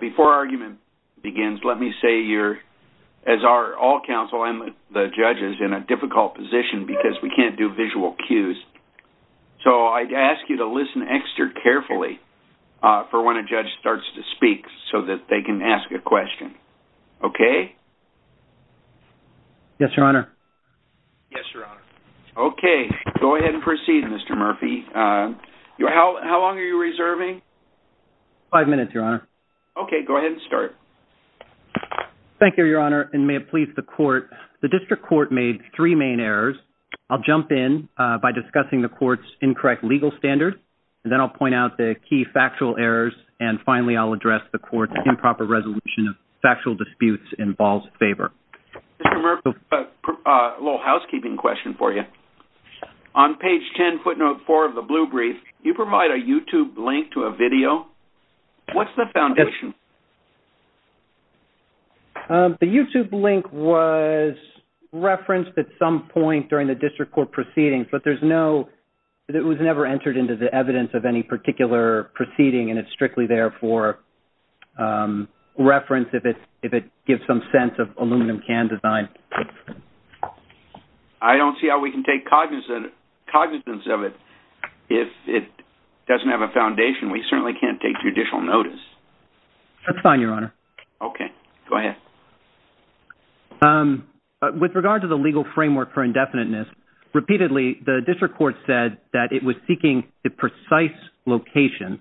Before argument begins, let me say you're as our all counsel and the judge is in a difficult position because we can't do visual cues So I'd ask you to listen extra carefully For when a judge starts to speak so that they can ask a question Okay Yes, your honor Yes, your honor. Okay, go ahead and proceed. Mr. Murphy You how long are you reserving? Five minutes, your honor. Okay, go ahead and start Thank you, your honor and may it please the court the district court made three main errors I'll jump in by discussing the courts incorrect legal standard and then I'll point out the key factual errors And finally, I'll address the court's improper resolution of factual disputes in Ball's favor Little housekeeping question for you On page 10 footnote 4 of the blue brief you provide a YouTube link to a video. What's the foundation? The YouTube link was Referenced at some point during the district court proceedings, but there's no It was never entered into the evidence of any particular proceeding and it's strictly there for Reference if it if it gives some sense of aluminum can design I Don't see how we can take cognizant cognizance of it if it doesn't have a foundation. We certainly can't take judicial notice That's fine. Your honor. Okay, go ahead With regard to the legal framework for indefiniteness Repeatedly the district court said that it was seeking the precise Location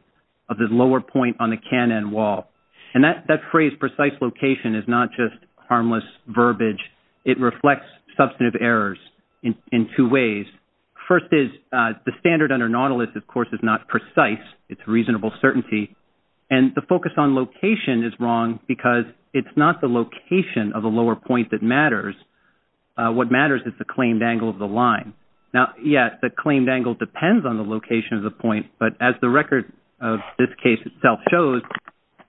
of the lower point on the cannon wall and that that phrase precise location is not just harmless verbiage It reflects substantive errors in two ways First is the standard under Nautilus, of course is not precise It's reasonable certainty and the focus on location is wrong because it's not the location of a lower point that matters What matters is the claimed angle of the line now yet the claimed angle depends on the location of the point but as the record of this case itself shows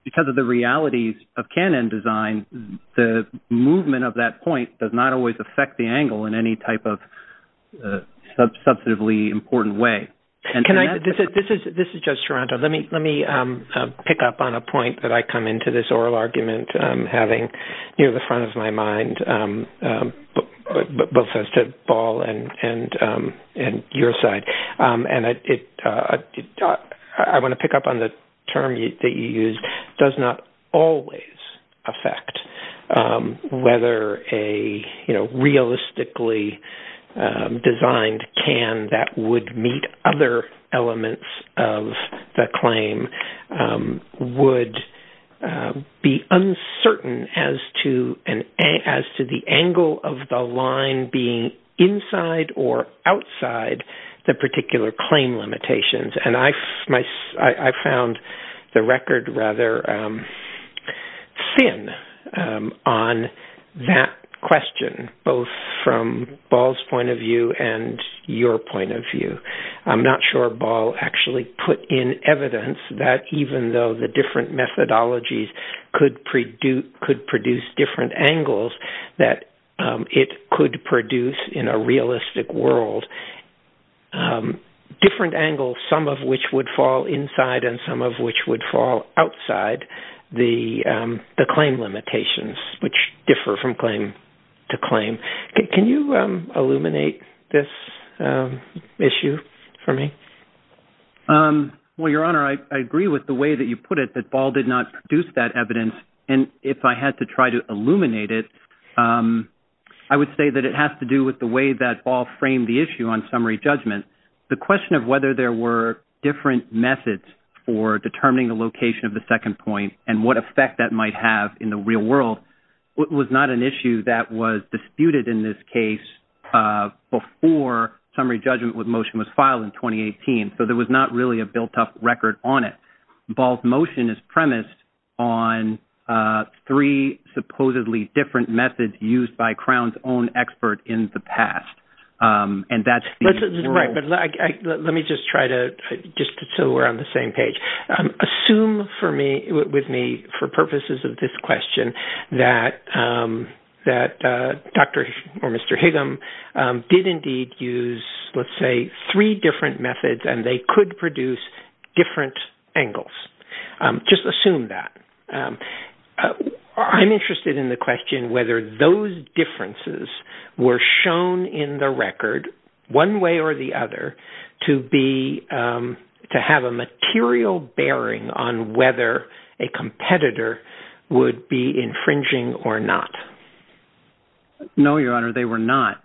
Because of the realities of cannon design the movement of that point does not always affect the angle in any type of Substantively important way and can I this is this is just Toronto. Let me let me Pick up on a point that I come into this oral argument having near the front of my mind Both sides to ball and and and your side and I did Talk I want to pick up on the term that you use does not always affect whether a you know, realistically Designed can that would meet other elements of the claim? would be uncertain as to and as to the angle of the line being inside or Outside the particular claim limitations and I my I found the record rather Thin on That question both from balls point of view and your point of view I'm not sure ball actually put in evidence that even though the different methodologies Could pre do could produce different angles that it could produce in a realistic world a different angle some of which would fall inside and some of which would fall outside the Claim limitations which differ from claim to claim. Can you illuminate this? issue for me Well your honor I agree with the way that you put it that ball did not produce that evidence and if I had to try to illuminate it I Would say that it has to do with the way that all frame the issue on summary judgment the question of whether there were Different methods for determining the location of the second point and what effect that might have in the real world What was not an issue that was disputed in this case? Before summary judgment with motion was filed in 2018. So there was not really a built-up record on it both motion is premised on Three supposedly different methods used by crowns own expert in the past and that's Let me just try to just so we're on the same page Assume for me with me for purposes of this question that That dr. Or. Mr. Higgin did indeed use. Let's say three different methods and they could produce different angles Just assume that I'm interested in the question whether those Differences were shown in the record one way or the other to be to have a material bearing on whether a Competitor would be infringing or not No, your honor. They were not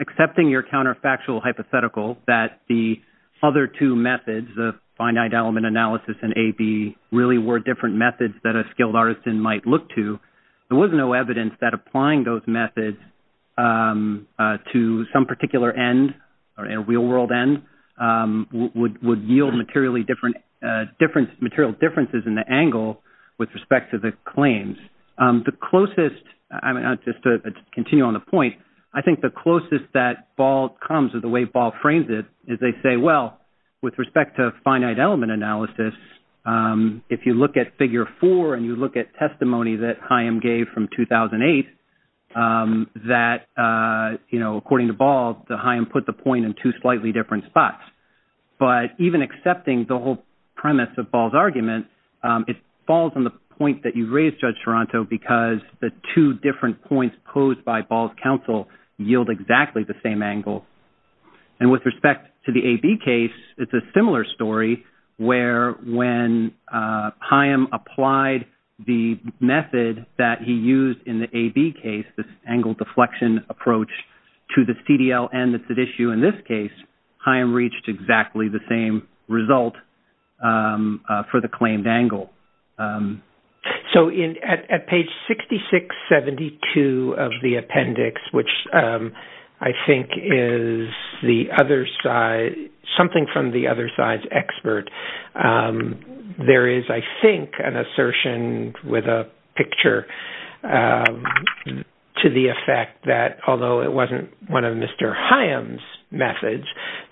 accepting your counterfactual hypothetical that the other two methods the finite element analysis and a be Really were different methods that a skilled artist in might look to there was no evidence that applying those methods To some particular end or a real-world end Would would yield materially different Different material differences in the angle with respect to the claims the closest. I mean just to continue on the point I think the closest that ball comes of the way ball frames it is they say well with respect to finite element analysis If you look at figure four and you look at testimony that I am gave from 2008 that You know according to ball the high and put the point in two slightly different spots But even accepting the whole premise of balls argument It falls on the point that you raised judge Toronto because the two different points posed by balls counsel Yield exactly the same angle and with respect to the a B case. It's a similar story where when? Haim applied the method that he used in the a B case this angle deflection approach To the CDL and that's at issue in this case. I am reached exactly the same result for the claimed angle so in at page 6672 of the appendix which I think is the other side something from the other side's expert There is I think an assertion with a picture To the effect that although it wasn't one of mr. Haim's methods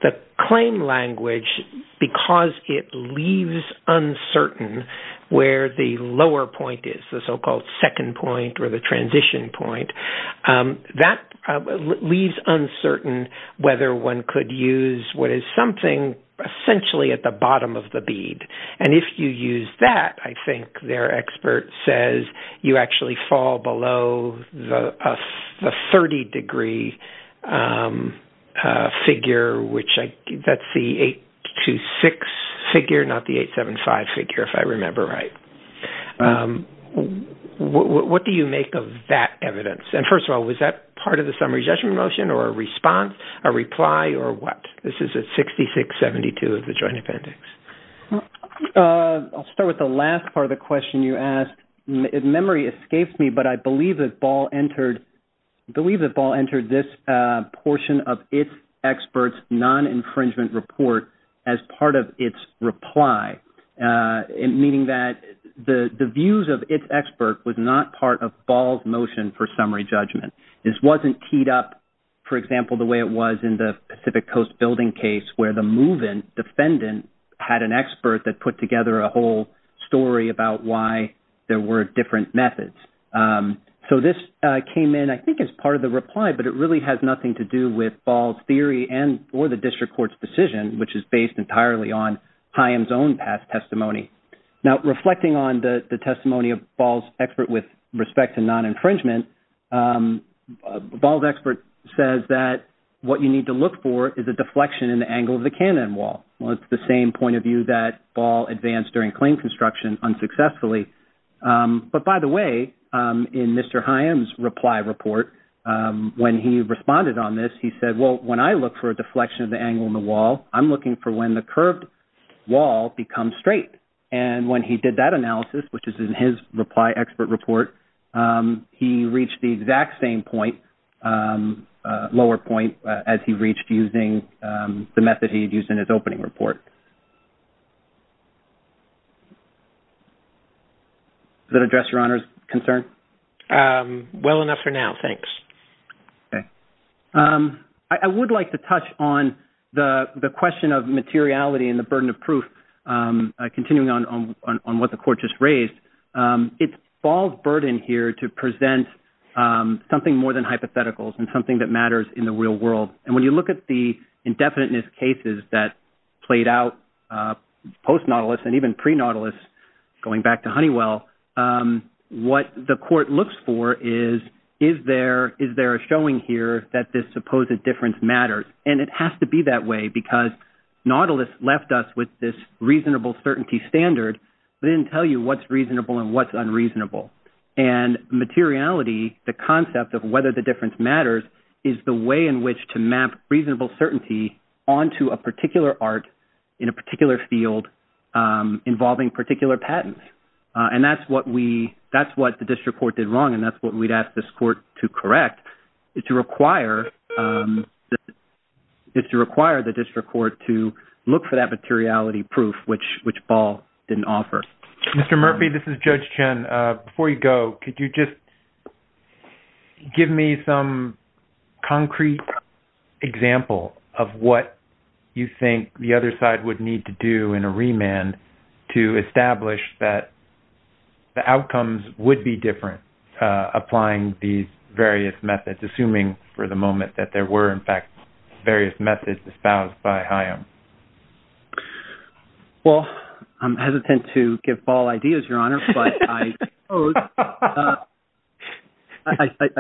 that claim language because it leaves Uncertain where the lower point is the so-called second point or the transition point? that Leaves uncertain whether one could use what is something Essentially at the bottom of the bead and if you use that I think their expert says you actually fall below the 30 degree Figure which I that's the eight to six figure not the eight seven five figure if I remember right What do you make of that evidence and first of all was that part of the summary judgment motion or a response a reply or What this is a 6672 of the joint appendix I'll start with the last part of the question you asked if memory escapes me, but I believe that ball entered Believe that ball entered this portion of its experts non-infringement report as part of its reply In meaning that the the views of its expert was not part of balls motion for summary judgment This wasn't teed up For example the way it was in the Pacific Coast building case where the move-in Defendant had an expert that put together a whole story about why there were different methods So this came in I think it's part of the reply But it really has nothing to do with balls theory and or the district courts decision Which is based entirely on I am zone past testimony now reflecting on the the testimony of balls expert with respect to non-infringement Balls expert says that What you need to look for is a deflection in the angle of the cannon wall Well, it's the same point of view that ball advanced during claim construction unsuccessfully But by the way in mr. Highams reply report When he responded on this he said well when I look for a deflection of the angle in the wall I'm looking for when the curved wall becomes straight and when he did that analysis, which is in his reply expert report He reached the exact same point Lower point as he reached using the method he had used in his opening report That address your honors concern Well enough for now. Thanks Okay I would like to touch on the the question of materiality and the burden of proof Continuing on on what the court just raised It's balls burden here to present Something more than hypotheticals and something that matters in the real world. And when you look at the indefiniteness cases that played out Post Nautilus and even pre Nautilus going back to Honeywell What the court looks for is is there is there a showing here that this supposed difference matters and it has to be that way because Nautilus left us with this reasonable certainty standard. They didn't tell you what's reasonable and what's unreasonable and Materiality the concept of whether the difference matters is the way in which to map reasonable certainty onto a particular art in a particular field Involving particular patents and that's what we that's what the district court did wrong And that's what we'd ask this court to correct it to require It's to require the district court to look for that materiality proof which which ball didn't offer mr. Murphy This is judge Chen before you go. Could you just Give me some concrete Example of what you think the other side would need to do in a remand to establish that The outcomes would be different Applying these various methods assuming for the moment that there were in fact various methods espoused by high-end Well, I'm hesitant to give all ideas your honor I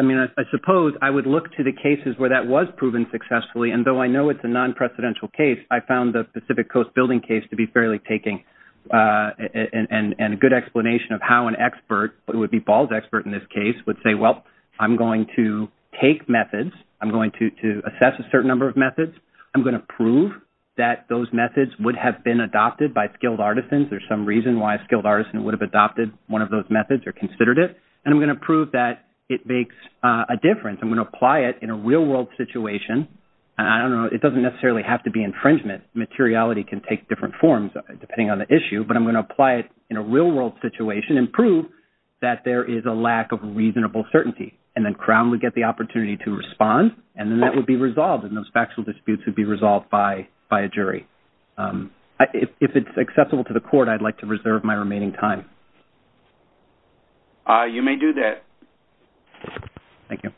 Mean I suppose I would look to the cases where that was proven successfully and though I know it's a non-precedential case I found the Pacific Coast building case to be fairly taking And and a good explanation of how an expert it would be balls expert in this case would say well I'm going to take methods. I'm going to assess a certain number of methods I'm going to prove that those methods would have been adopted by skilled artisans There's some reason why a skilled artisan would have adopted one of those methods or considered it And I'm going to prove that it makes a difference. I'm going to apply it in a real-world situation I don't know. It doesn't necessarily have to be infringement materiality can take different forms depending on the issue But I'm going to apply it in a real-world situation and prove that there is a lack of Reasonable certainty and then crown would get the opportunity to respond and then that would be resolved in those factual disputes would be resolved by by a jury If it's accessible to the court, I'd like to reserve my remaining time All right, you may do that Thank you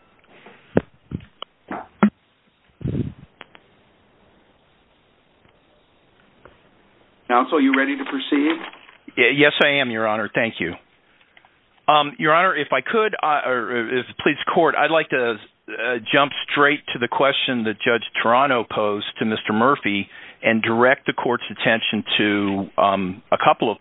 Counsel you ready to proceed? Yes. I am your honor. Thank you your honor if I could I Please court. I'd like to Jump straight to the question the judge Toronto posed to mr. Murphy and direct the court's attention to a couple of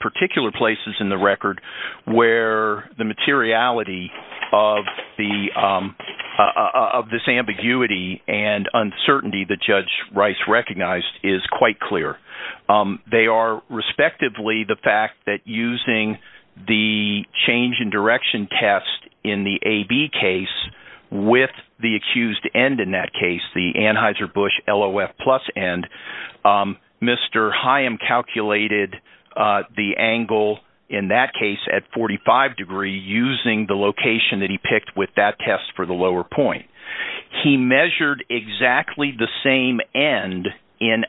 particular places in the record where the materiality of the Of this ambiguity and uncertainty the judge Rice recognized is quite clear They are respectively the fact that using the change in direction test in the a B case With the accused end in that case the anheuser-busch lof plus end Mr. Haim calculated The angle in that case at 45 degree using the location that he picked with that test for the lower point He measured exactly the same end in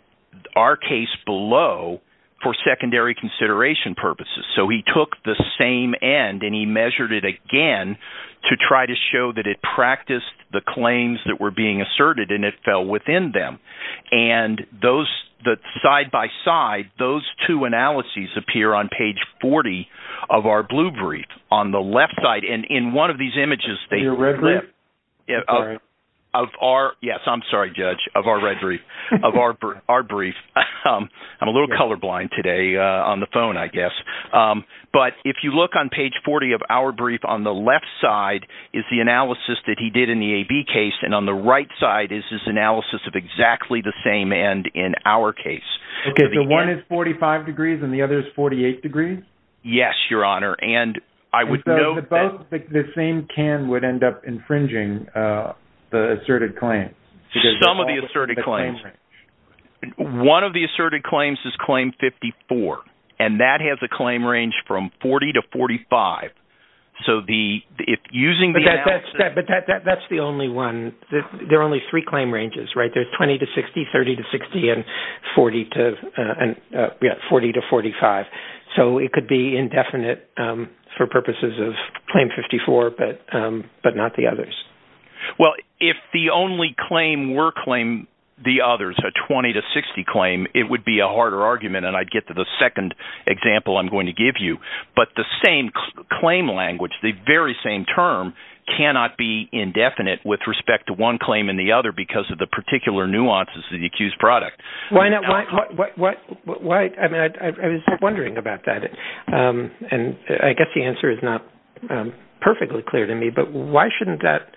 our case below For secondary consideration purposes, so he took the same end and he measured it again to try to show that it practiced the claims that were being asserted and it fell within them and Those that side-by-side those two analyses appear on page 40 of our blue brief on the left side And in one of these images, they're red Yeah of our yes, I'm sorry judge of our red brief of our our brief I'm a little colorblind today on the phone, I guess But if you look on page 40 of our brief on the left side is the analysis that he did in the a B case And on the right side is this analysis of exactly the same and in our case Okay, the one is 45 degrees and the other is 48 degrees Yes, your honor, and I would know the same can would end up infringing the asserted claim some of the asserted claims One of the asserted claims is claim 54 and that has a claim range from 40 to 45 So the if using that that's that but that that's the only one that there are only three claim ranges, right? There's 20 to 60 30 to 60 and 40 to and 40 to 45 So it could be indefinite for purposes of claim 54, but but not the others Well, if the only claim were claim the others a 20 to 60 claim It would be a harder argument and I'd get to the second example I'm going to give you but the same claim language the very same term Cannot be indefinite with respect to one claim in the other because of the particular nuances of the accused product why not what what what what I mean, I was wondering about that and I guess the answer is not perfectly clear to me, but why shouldn't that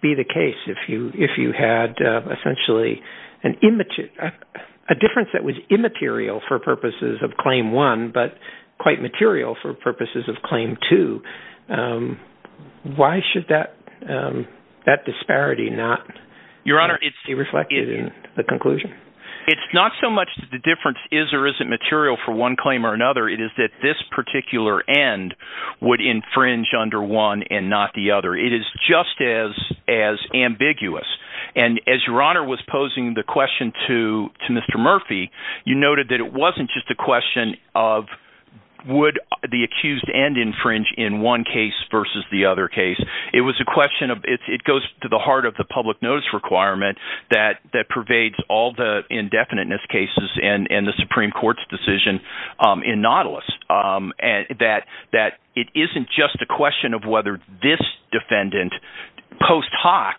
be the case if you if you had essentially an image a Difference that was immaterial for purposes of claim one, but quite material for purposes of claim to Why should that That disparity not your honor. It's he reflected in the conclusion It's not so much the difference is or isn't material for one claim or another it is that this particular end would infringe under one and not the other it is just as as Ambiguous and as your honor was posing the question to to mr. Murphy. You noted that it wasn't just a question of Would the accused and infringe in one case versus the other case? It was a question of it goes to the heart of the public notice requirement that that pervades all the indefiniteness cases and and the Supreme Court's decision in Nautilus and that that it isn't just a question of whether this defendant post hoc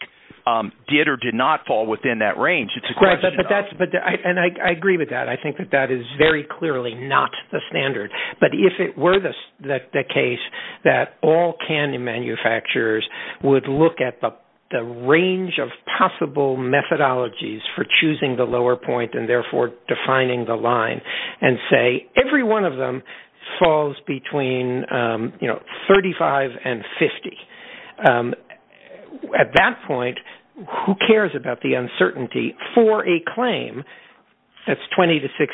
Did or did not fall within that range? It's a question, but that's but I and I agree with that I think that that is very clearly not the standard but if it were this that the case that all candy manufacturers would look at the range of possible methodologies for choosing the lower point and therefore defining the line and say every one of them falls between You know 35 and 50 At that point who cares about the uncertainty for a claim That's 20 to 60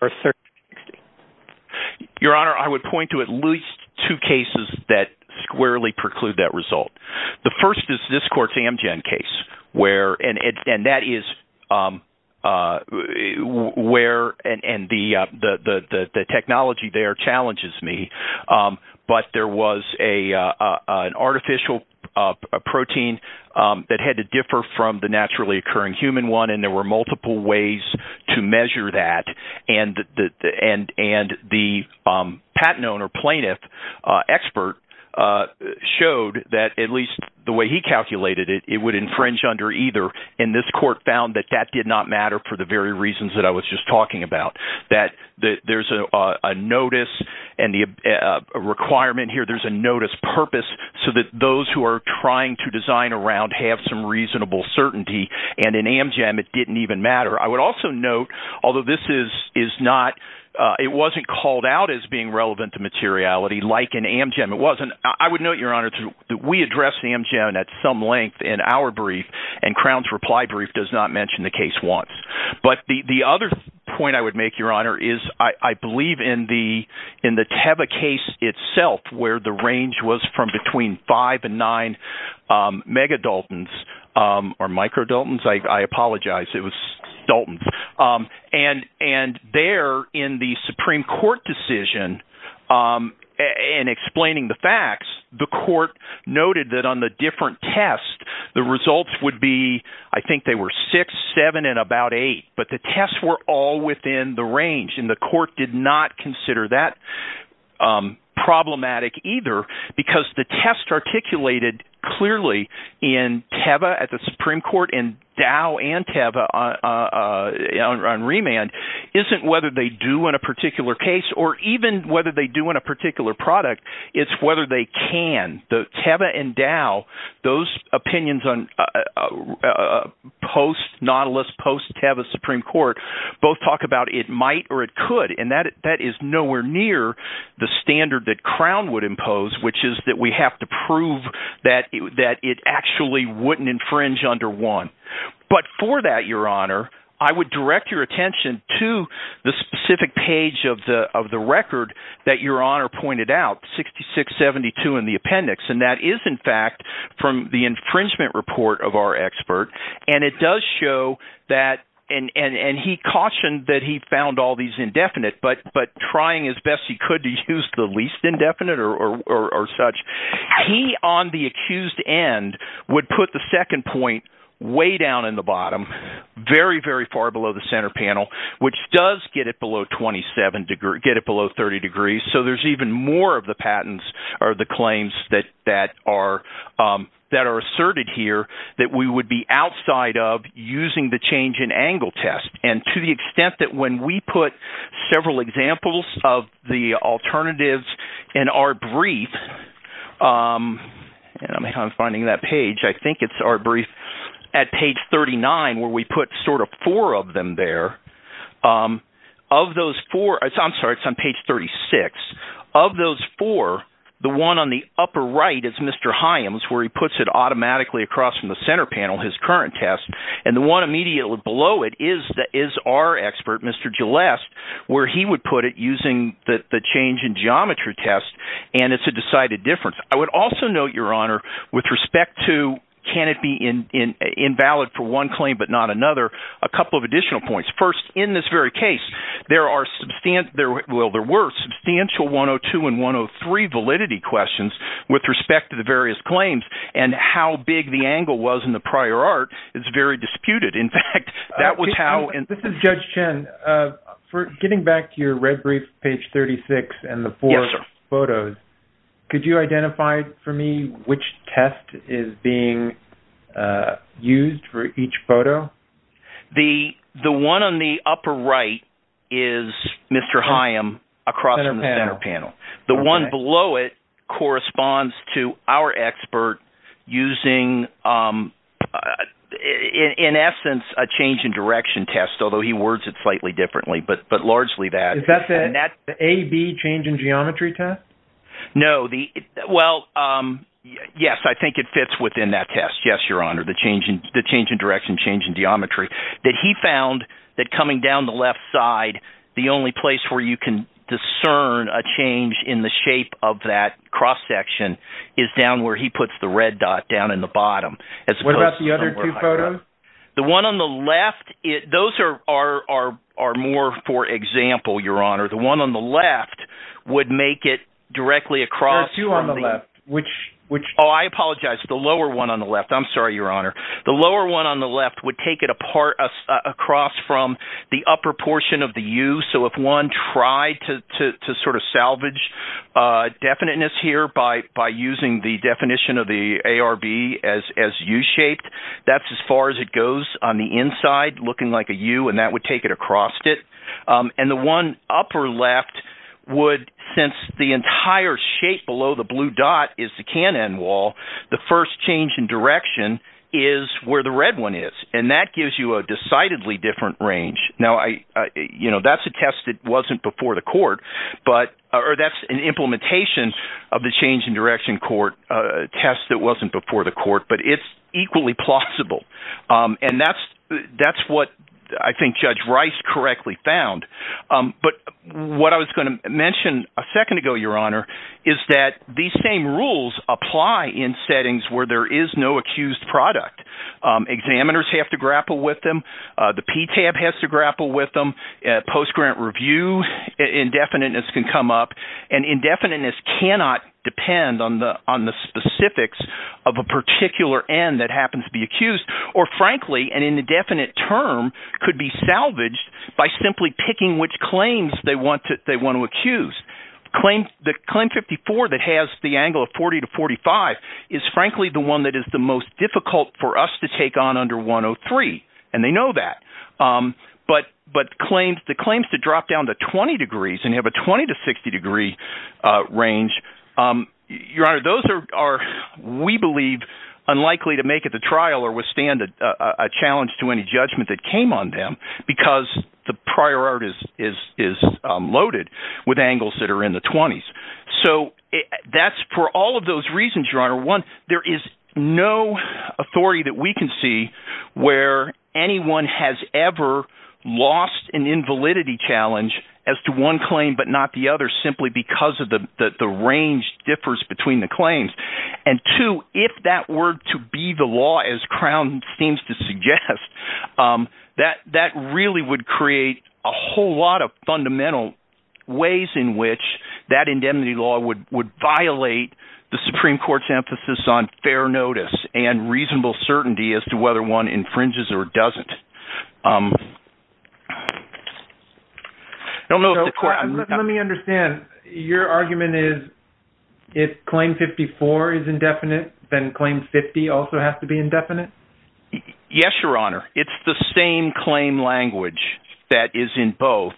or 30 Your honor I would point to at least two cases that squarely preclude that result the first is this court's amgen case where and it and that is um, uh, Where and and the uh, the the the technology there challenges me. Um, but there was a uh, uh an artificial uh protein Um that had to differ from the naturally occurring human one and there were multiple ways to measure that and the and and the um patent owner plaintiff, uh expert, uh Showed that at least the way he calculated it It would infringe under either and this court found that that did not matter for the very reasons that I was just talking about that there's a a notice and the A requirement here. There's a notice purpose so that those who are trying to design around have some reasonable certainty And in amgen, it didn't even matter. I would also note although this is is not Uh, it wasn't called out as being relevant to materiality like an amgen It wasn't I would note your honor that we address the amgen at some length in our brief And crown's reply brief does not mention the case once but the the other point I would make your honor is I I believe in The in the teva case itself where the range was from between five and nine um megadaltons Um or microdaltons. I I apologize. It was daltons. Um, and and there in the supreme court decision um And explaining the facts the court noted that on the different tests the results would be I think they were six seven and about eight But the tests were all within the range and the court did not consider that um Problematic either because the test articulated clearly in teva at the supreme court and dow and teva uh on remand Isn't whether they do in a particular case or even whether they do in a particular product It's whether they can the teva and dow those opinions on Uh post nautilus post teva supreme court both talk about it might or it could and that that is nowhere near The standard that crown would impose which is that we have to prove that that it actually wouldn't infringe under one But for that your honor, I would direct your attention to the specific page of the of the record that your honor pointed out 66 72 in the appendix and that is in fact from the infringement report of our expert and it does show That and and and he cautioned that he found all these indefinite But but trying as best he could to use the least indefinite or or or such He on the accused end would put the second point way down in the bottom Very very far below the center panel, which does get it below 27 degree get it below 30 degrees so there's even more of the patents or the claims that that are um that are asserted here that we would be outside of using the change in angle test and to the extent that when we put several examples of the alternatives in our brief um And i'm finding that page. I think it's our brief At page 39 where we put sort of four of them there um Of those four it's i'm sorry It's on page 36 of those four The one on the upper right is mr Hyams where he puts it automatically across from the center panel his current test and the one immediately below it is that is our Expert, mr. Gilleste where he would put it using the the change in geometry test and it's a decided difference I would also note your honor with respect to can it be in in invalid for one claim? But not another a couple of additional points first in this very case There are substant there well There were substantial 102 and 103 validity questions with respect to the various claims and how big the angle was in the prior art It's very disputed. In fact, that was how and this is judge chen Uh for getting back to your red brief page 36 and the four photos Could you identify for me which test is being? Uh used for each photo The the one on the upper right is Mr. Hyam across the center panel the one below it corresponds to our expert using um In essence a change in direction test, although he words it slightly differently, but but largely that that's it a b change in geometry test no, the well, um Yes, I think it fits within that test Yes, your honor the change in the change in direction change in geometry that he found that coming down the left side The only place where you can discern a change in the shape of that cross section Is down where he puts the red dot down in the bottom as opposed to the other two photos The one on the left it those are are are more for example, your honor the one on the left Would make it directly across you on the left which which oh, I apologize the lower one on the left I'm, sorry, your honor the lower one on the left would take it apart Across from the upper portion of the u so if one tried to to to sort of salvage Uh definiteness here by by using the definition of the arb as as u-shaped That's as far as it goes on the inside looking like a u and that would take it across it And the one upper left Would since the entire shape below the blue dot is the cannon wall the first change in direction Is where the red one is and that gives you a decidedly different range now? I I you know, that's a test that wasn't before the court But or that's an implementation of the change in direction court, uh test that wasn't before the court, but it's equally plausible And that's that's what I think judge rice correctly found Um, but what I was going to mention a second ago Your honor is that these same rules apply in settings where there is no accused product Um examiners have to grapple with them. Uh, the p-tab has to grapple with them at post-grant review indefiniteness can come up and indefiniteness cannot depend on the on the specifics Of a particular end that happens to be accused or frankly and in the definite term could be salvaged By simply picking which claims they want to they want to accuse Claim the claim 54 that has the angle of 40 to 45 Is frankly the one that is the most difficult for us to take on under 103 and they know that Um, but but claims the claims to drop down to 20 degrees and have a 20 to 60 degree uh range um, your honor those are We believe Unlikely to make it the trial or withstand a challenge to any judgment that came on them because the prior art is is is Loaded with angles that are in the 20s. So That's for all of those reasons your honor one. There is no Authority that we can see Where anyone has ever? Lost an invalidity challenge as to one claim But not the other simply because of the the range differs between the claims And two if that were to be the law as crown seems to suggest Um that that really would create a whole lot of fundamental ways in which that indemnity law would would violate the supreme court's emphasis on fair notice and Reasonable certainty as to whether one infringes or doesn't um I don't know. Let me understand your argument is If claim 54 is indefinite then claim 50 also has to be indefinite Yes, your honor. It's the same claim language that is in both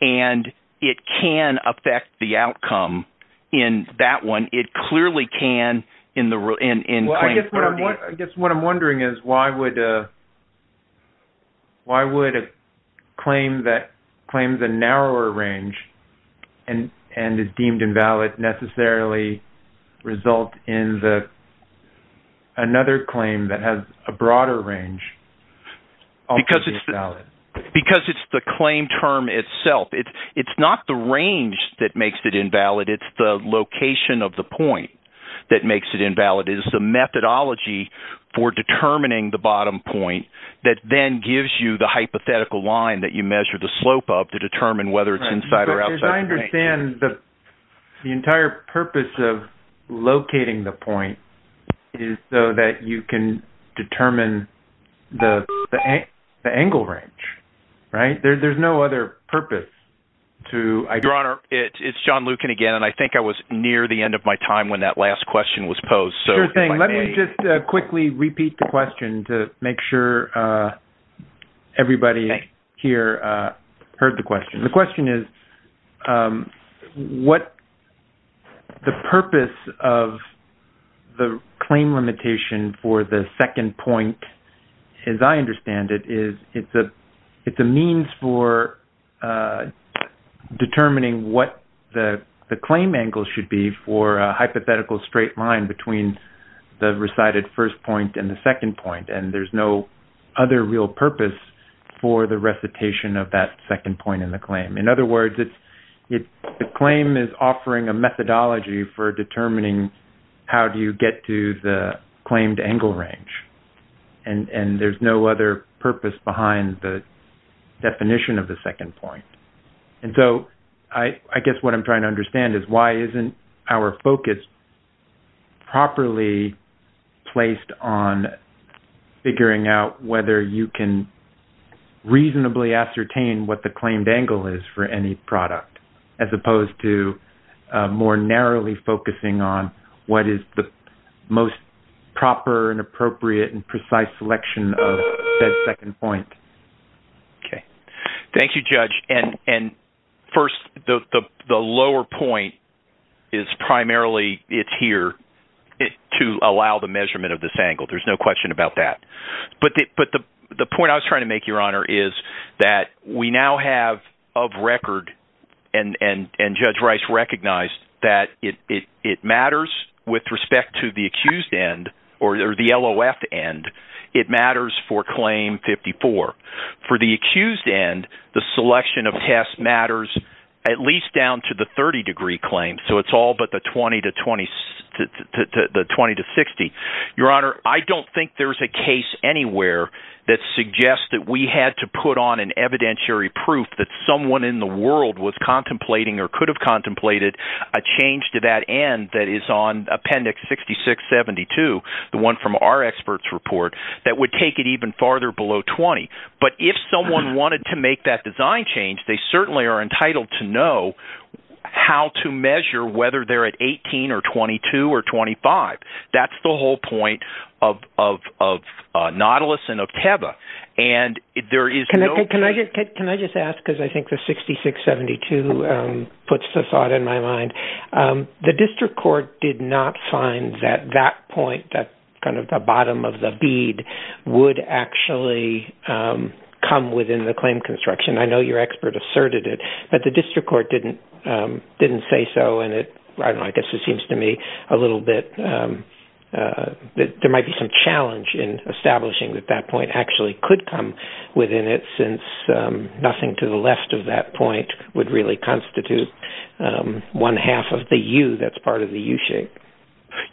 And it can affect the outcome In that one it clearly can in the in in well, I guess what I guess what i'm wondering is why would uh? Why would a claim that claims a narrower range and and is deemed invalid necessarily result in the Another claim that has a broader range Because it's valid because it's the claim term itself. It's it's not the range that makes it invalid It's the location of the point that makes it invalid is the methodology For determining the bottom point that then gives you the hypothetical line that you measure the slope of to determine whether it's inside or outside the the entire purpose of Locating the point Is so that you can determine? the the angle range Right, there's no other purpose To your honor. It's john lukin again And I think I was near the end of my time when that last question was posed Sure thing. Let me just quickly repeat the question to make sure. Uh, everybody here, uh heard the question the question is um what the purpose of The claim limitation for the second point As I understand it is it's a it's a means for uh Determining what the the claim angle should be for a hypothetical straight line between The recited first point and the second point and there's no other real purpose for the recitation of that second point in the claim in other words, it's It the claim is offering a methodology for determining How do you get to the claimed angle range? and and there's no other purpose behind the Definition of the second point and so I I guess what i'm trying to understand is why isn't our focus properly placed on figuring out whether you can Reasonably ascertain what the claimed angle is for any product as opposed to more narrowly focusing on what is the most Proper and appropriate and precise selection of that second point Okay, thank you judge and and first the the lower point Is primarily it's here To allow the measurement of this angle. There's no question about that But but the the point I was trying to make your honor is that we now have of record And and and judge rice recognized that it it matters with respect to the accused end or the lof end It matters for claim 54 For the accused end the selection of tests matters At least down to the 30 degree claim. So it's all but the 20 to 20 The 20 to 60 your honor. I don't think there's a case anywhere That suggests that we had to put on an evidentiary proof that someone in the world was contemplating or could have contemplated A change to that end that is on appendix 6672 The one from our experts report that would take it even farther below 20 But if someone wanted to make that design change, they certainly are entitled to know How to measure whether they're at 18 or 22 or 25. That's the whole point of of of Nautilus and of teva and there is can I just can I just ask because I think the 6672 Puts the thought in my mind Um, the district court did not find that that point that kind of the bottom of the bead would actually Um come within the claim construction. I know your expert asserted it, but the district court didn't Didn't say so and it I don't know. I guess it seems to me a little bit That there might be some challenge in establishing that that point actually could come within it since Nothing to the left of that point would really constitute Um one half of the u that's part of the u-shape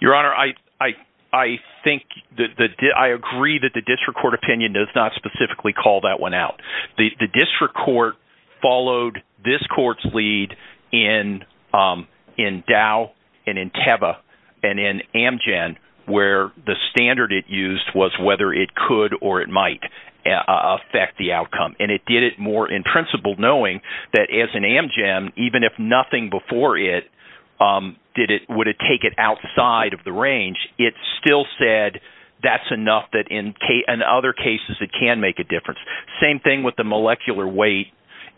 Your honor. I I I think that the I agree that the district court opinion does not specifically call that one out the district court followed this court's lead in um in dow and in teva and in amgen where the standard it used was whether it could or it might Affect the outcome and it did it more in principle knowing that as an amgen even if nothing before it Um, did it would it take it outside of the range? It still said that's enough that in k and other cases that can make a difference same thing with the molecular weight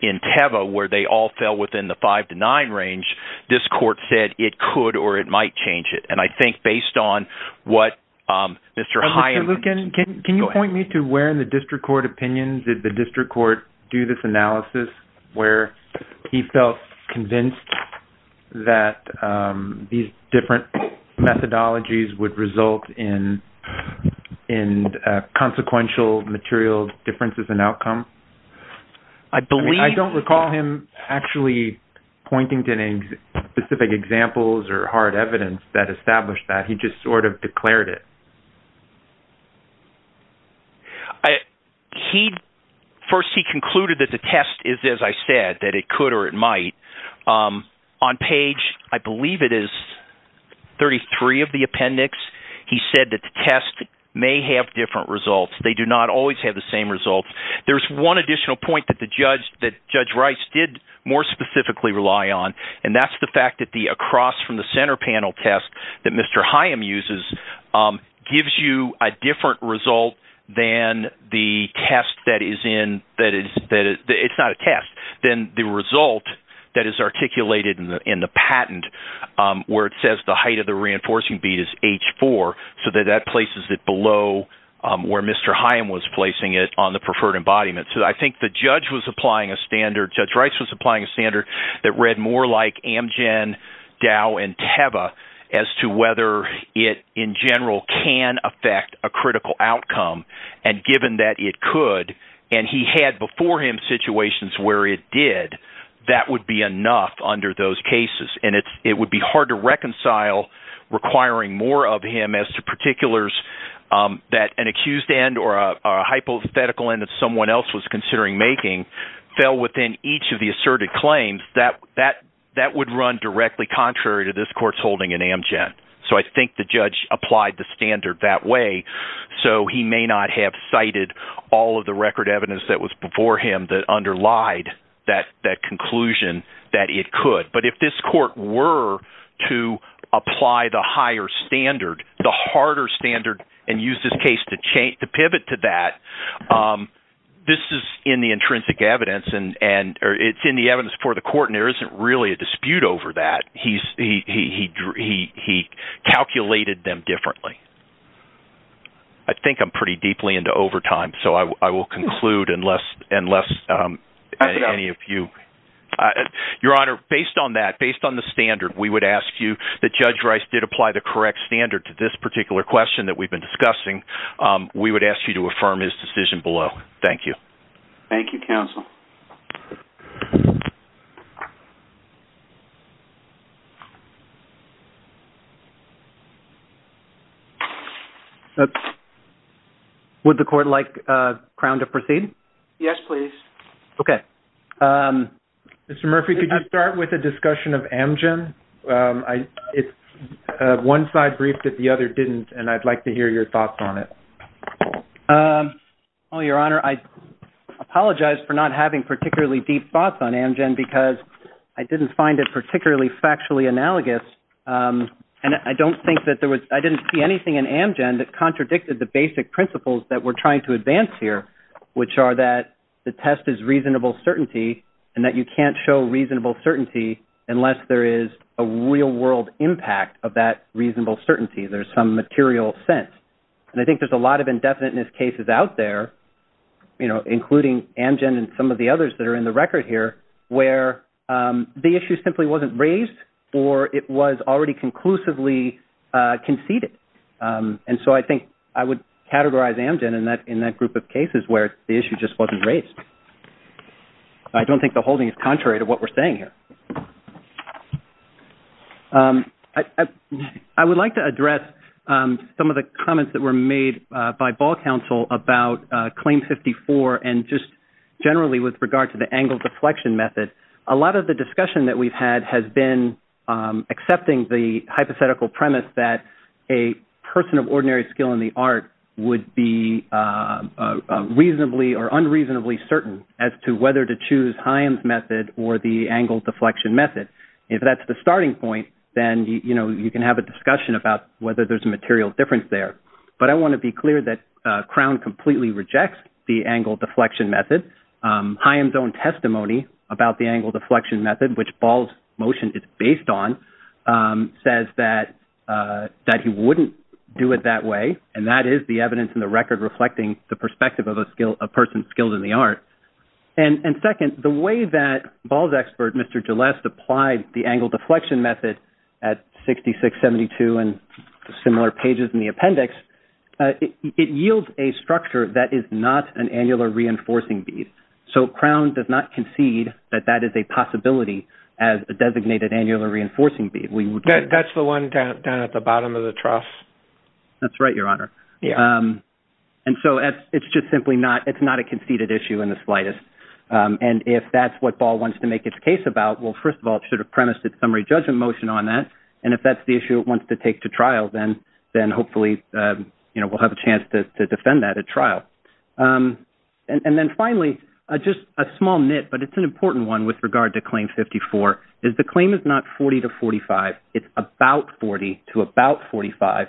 In teva where they all fell within the five to nine range This court said it could or it might change it and I think based on what? Um, mr Hyman, can you point me to where in the district court opinions did the district court do this analysis where? He felt convinced that um these different methodologies would result in in consequential material differences in outcome I believe I don't recall him actually pointing to names specific examples or hard evidence that established that he just sort of declared it I He First he concluded that the test is as I said that it could or it might um on page, I believe it is 33 of the appendix. He said that the test may have different results. They do not always have the same results There's one additional point that the judge that judge rice did More specifically rely on and that's the fact that the across from the center panel test that mr. Hyam uses um gives you a different result than the test that is in that is that It's not a test than the result that is articulated in the in the patent Um where it says the height of the reinforcing bead is h4 so that that places it below Um where mr. Hyam was placing it on the preferred embodiment So I think the judge was applying a standard judge rice was applying a standard that read more like amgen Dow and teva as to whether it in general can affect a critical outcome And given that it could and he had before him situations where it did That would be enough under those cases and it's it would be hard to reconcile requiring more of him as to particulars Um that an accused end or a hypothetical end that someone else was considering making Fell within each of the asserted claims that that that would run directly contrary to this court's holding in amgen So I think the judge applied the standard that way So he may not have cited all of the record evidence that was before him that underlied That that conclusion that it could but if this court were To apply the higher standard the harder standard and use this case to change to pivot to that um This is in the intrinsic evidence and and or it's in the evidence for the court and there isn't really a dispute over that He's he he drew he he calculated them differently I think i'm pretty deeply into overtime. So I will conclude unless unless um any of you Your honor based on that based on the standard We would ask you that judge rice did apply the correct standard to this particular question that we've been discussing Um, we would ask you to affirm his decision below. Thank you. Thank you counsel Would the court like uh crown to proceed yes, please. Okay. Um, Mr. Murphy, could you start with a discussion of amgen? Um, I it's The other didn't and i'd like to hear your thoughts on it um oh your honor, I Apologize for not having particularly deep thoughts on amgen because I didn't find it particularly factually analogous Um, and I don't think that there was I didn't see anything in amgen that contradicted the basic principles that we're trying to advance here Which are that the test is reasonable certainty and that you can't show reasonable certainty Unless there is a real world impact of that reasonable certainty There's some material sense and I think there's a lot of indefiniteness cases out there You know including amgen and some of the others that are in the record here where um, the issue simply wasn't raised Or it was already conclusively Uh conceded. Um, and so I think I would categorize amgen and that in that group of cases where the issue just wasn't raised I don't think the holding is contrary to what we're saying here um I would like to address some of the comments that were made by ball council about claim 54 and just Generally with regard to the angle deflection method a lot of the discussion that we've had has been accepting the hypothetical premise that a person of ordinary skill in the art would be Reasonably or unreasonably certain as to whether to choose haim's method or the angle deflection method If that's the starting point then, you know, you can have a discussion about whether there's a material difference there But I want to be clear that crown completely rejects the angle deflection method Haim's own testimony about the angle deflection method which ball's motion is based on says that Uh that he wouldn't do it that way and that is the evidence in the record reflecting the perspective of a skill a person skilled in the art And and second the way that ball's expert. Mr. Gilleste applied the angle deflection method at 66 72 and similar pages in the appendix It yields a structure that is not an annular reinforcing bead So crown does not concede that that is a possibility as a designated annular reinforcing bead That's the one down at the bottom of the trough That's right, your honor. Yeah And so as it's just simply not it's not a conceded issue in the slightest And if that's what ball wants to make its case about well First of all, it should have premised its summary judgment motion on that and if that's the issue It wants to take to trial then then hopefully, uh, you know, we'll have a chance to defend that at trial um and then finally Just a small nit but it's an important one with regard to claim 54 is the claim is not 40 to 45 It's about 40 to about 45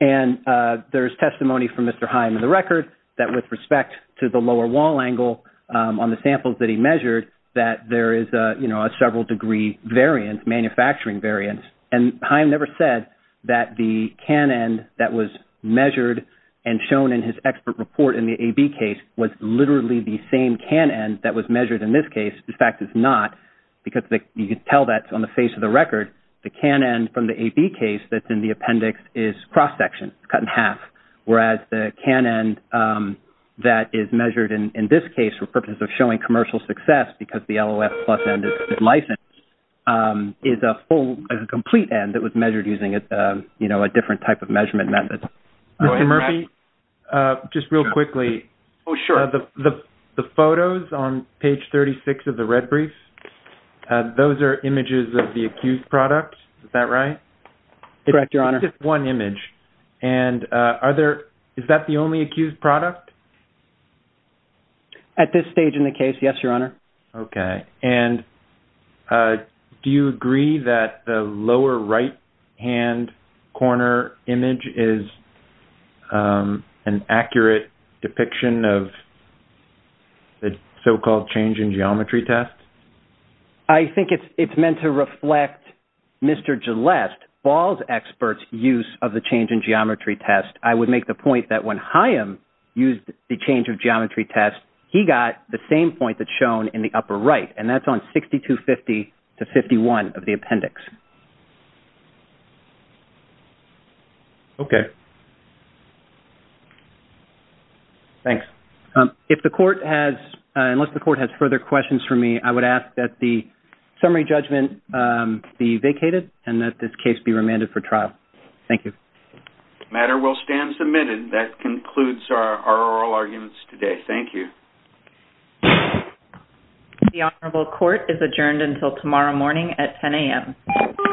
And uh, there's testimony from mr Heim in the record that with respect to the lower wall angle On the samples that he measured that there is a you know, a several degree variance manufacturing variance and heim never said that the can end that was measured And shown in his expert report in the ab case was literally the same can end that was measured in this case The fact is not because you can tell that on the face of the record the can end from the ab case That's in the appendix is cross-section cut in half. Whereas the can end um That is measured in in this case for purpose of showing commercial success because the lof plus end is licensed Um is a full a complete end that was measured using a you know, a different type of measurement method Mr. Murphy, uh, just real quickly. Oh sure the the photos on page 36 of the red brief Uh, those are images of the accused product. Is that right? Correct your honor just one image And uh, are there is that the only accused product? At this stage in the case, yes, your honor, okay, and Uh, do you agree that the lower right? hand Corner image is um an accurate depiction of The so-called change in geometry test I think it's it's meant to reflect Mr. Gilleste ball's experts use of the change in geometry test I would make the point that when hyam used the change of geometry test He got the same point that's shown in the upper right and that's on 62 50 to 51 of the appendix Okay Thanks, um if the court has Unless the court has further questions for me. I would ask that the summary judgment, um be vacated and that this case be remanded for trial. Thank you Matter will stand submitted that concludes our oral arguments today. Thank you The honorable court is adjourned until tomorrow morning at 10 a.m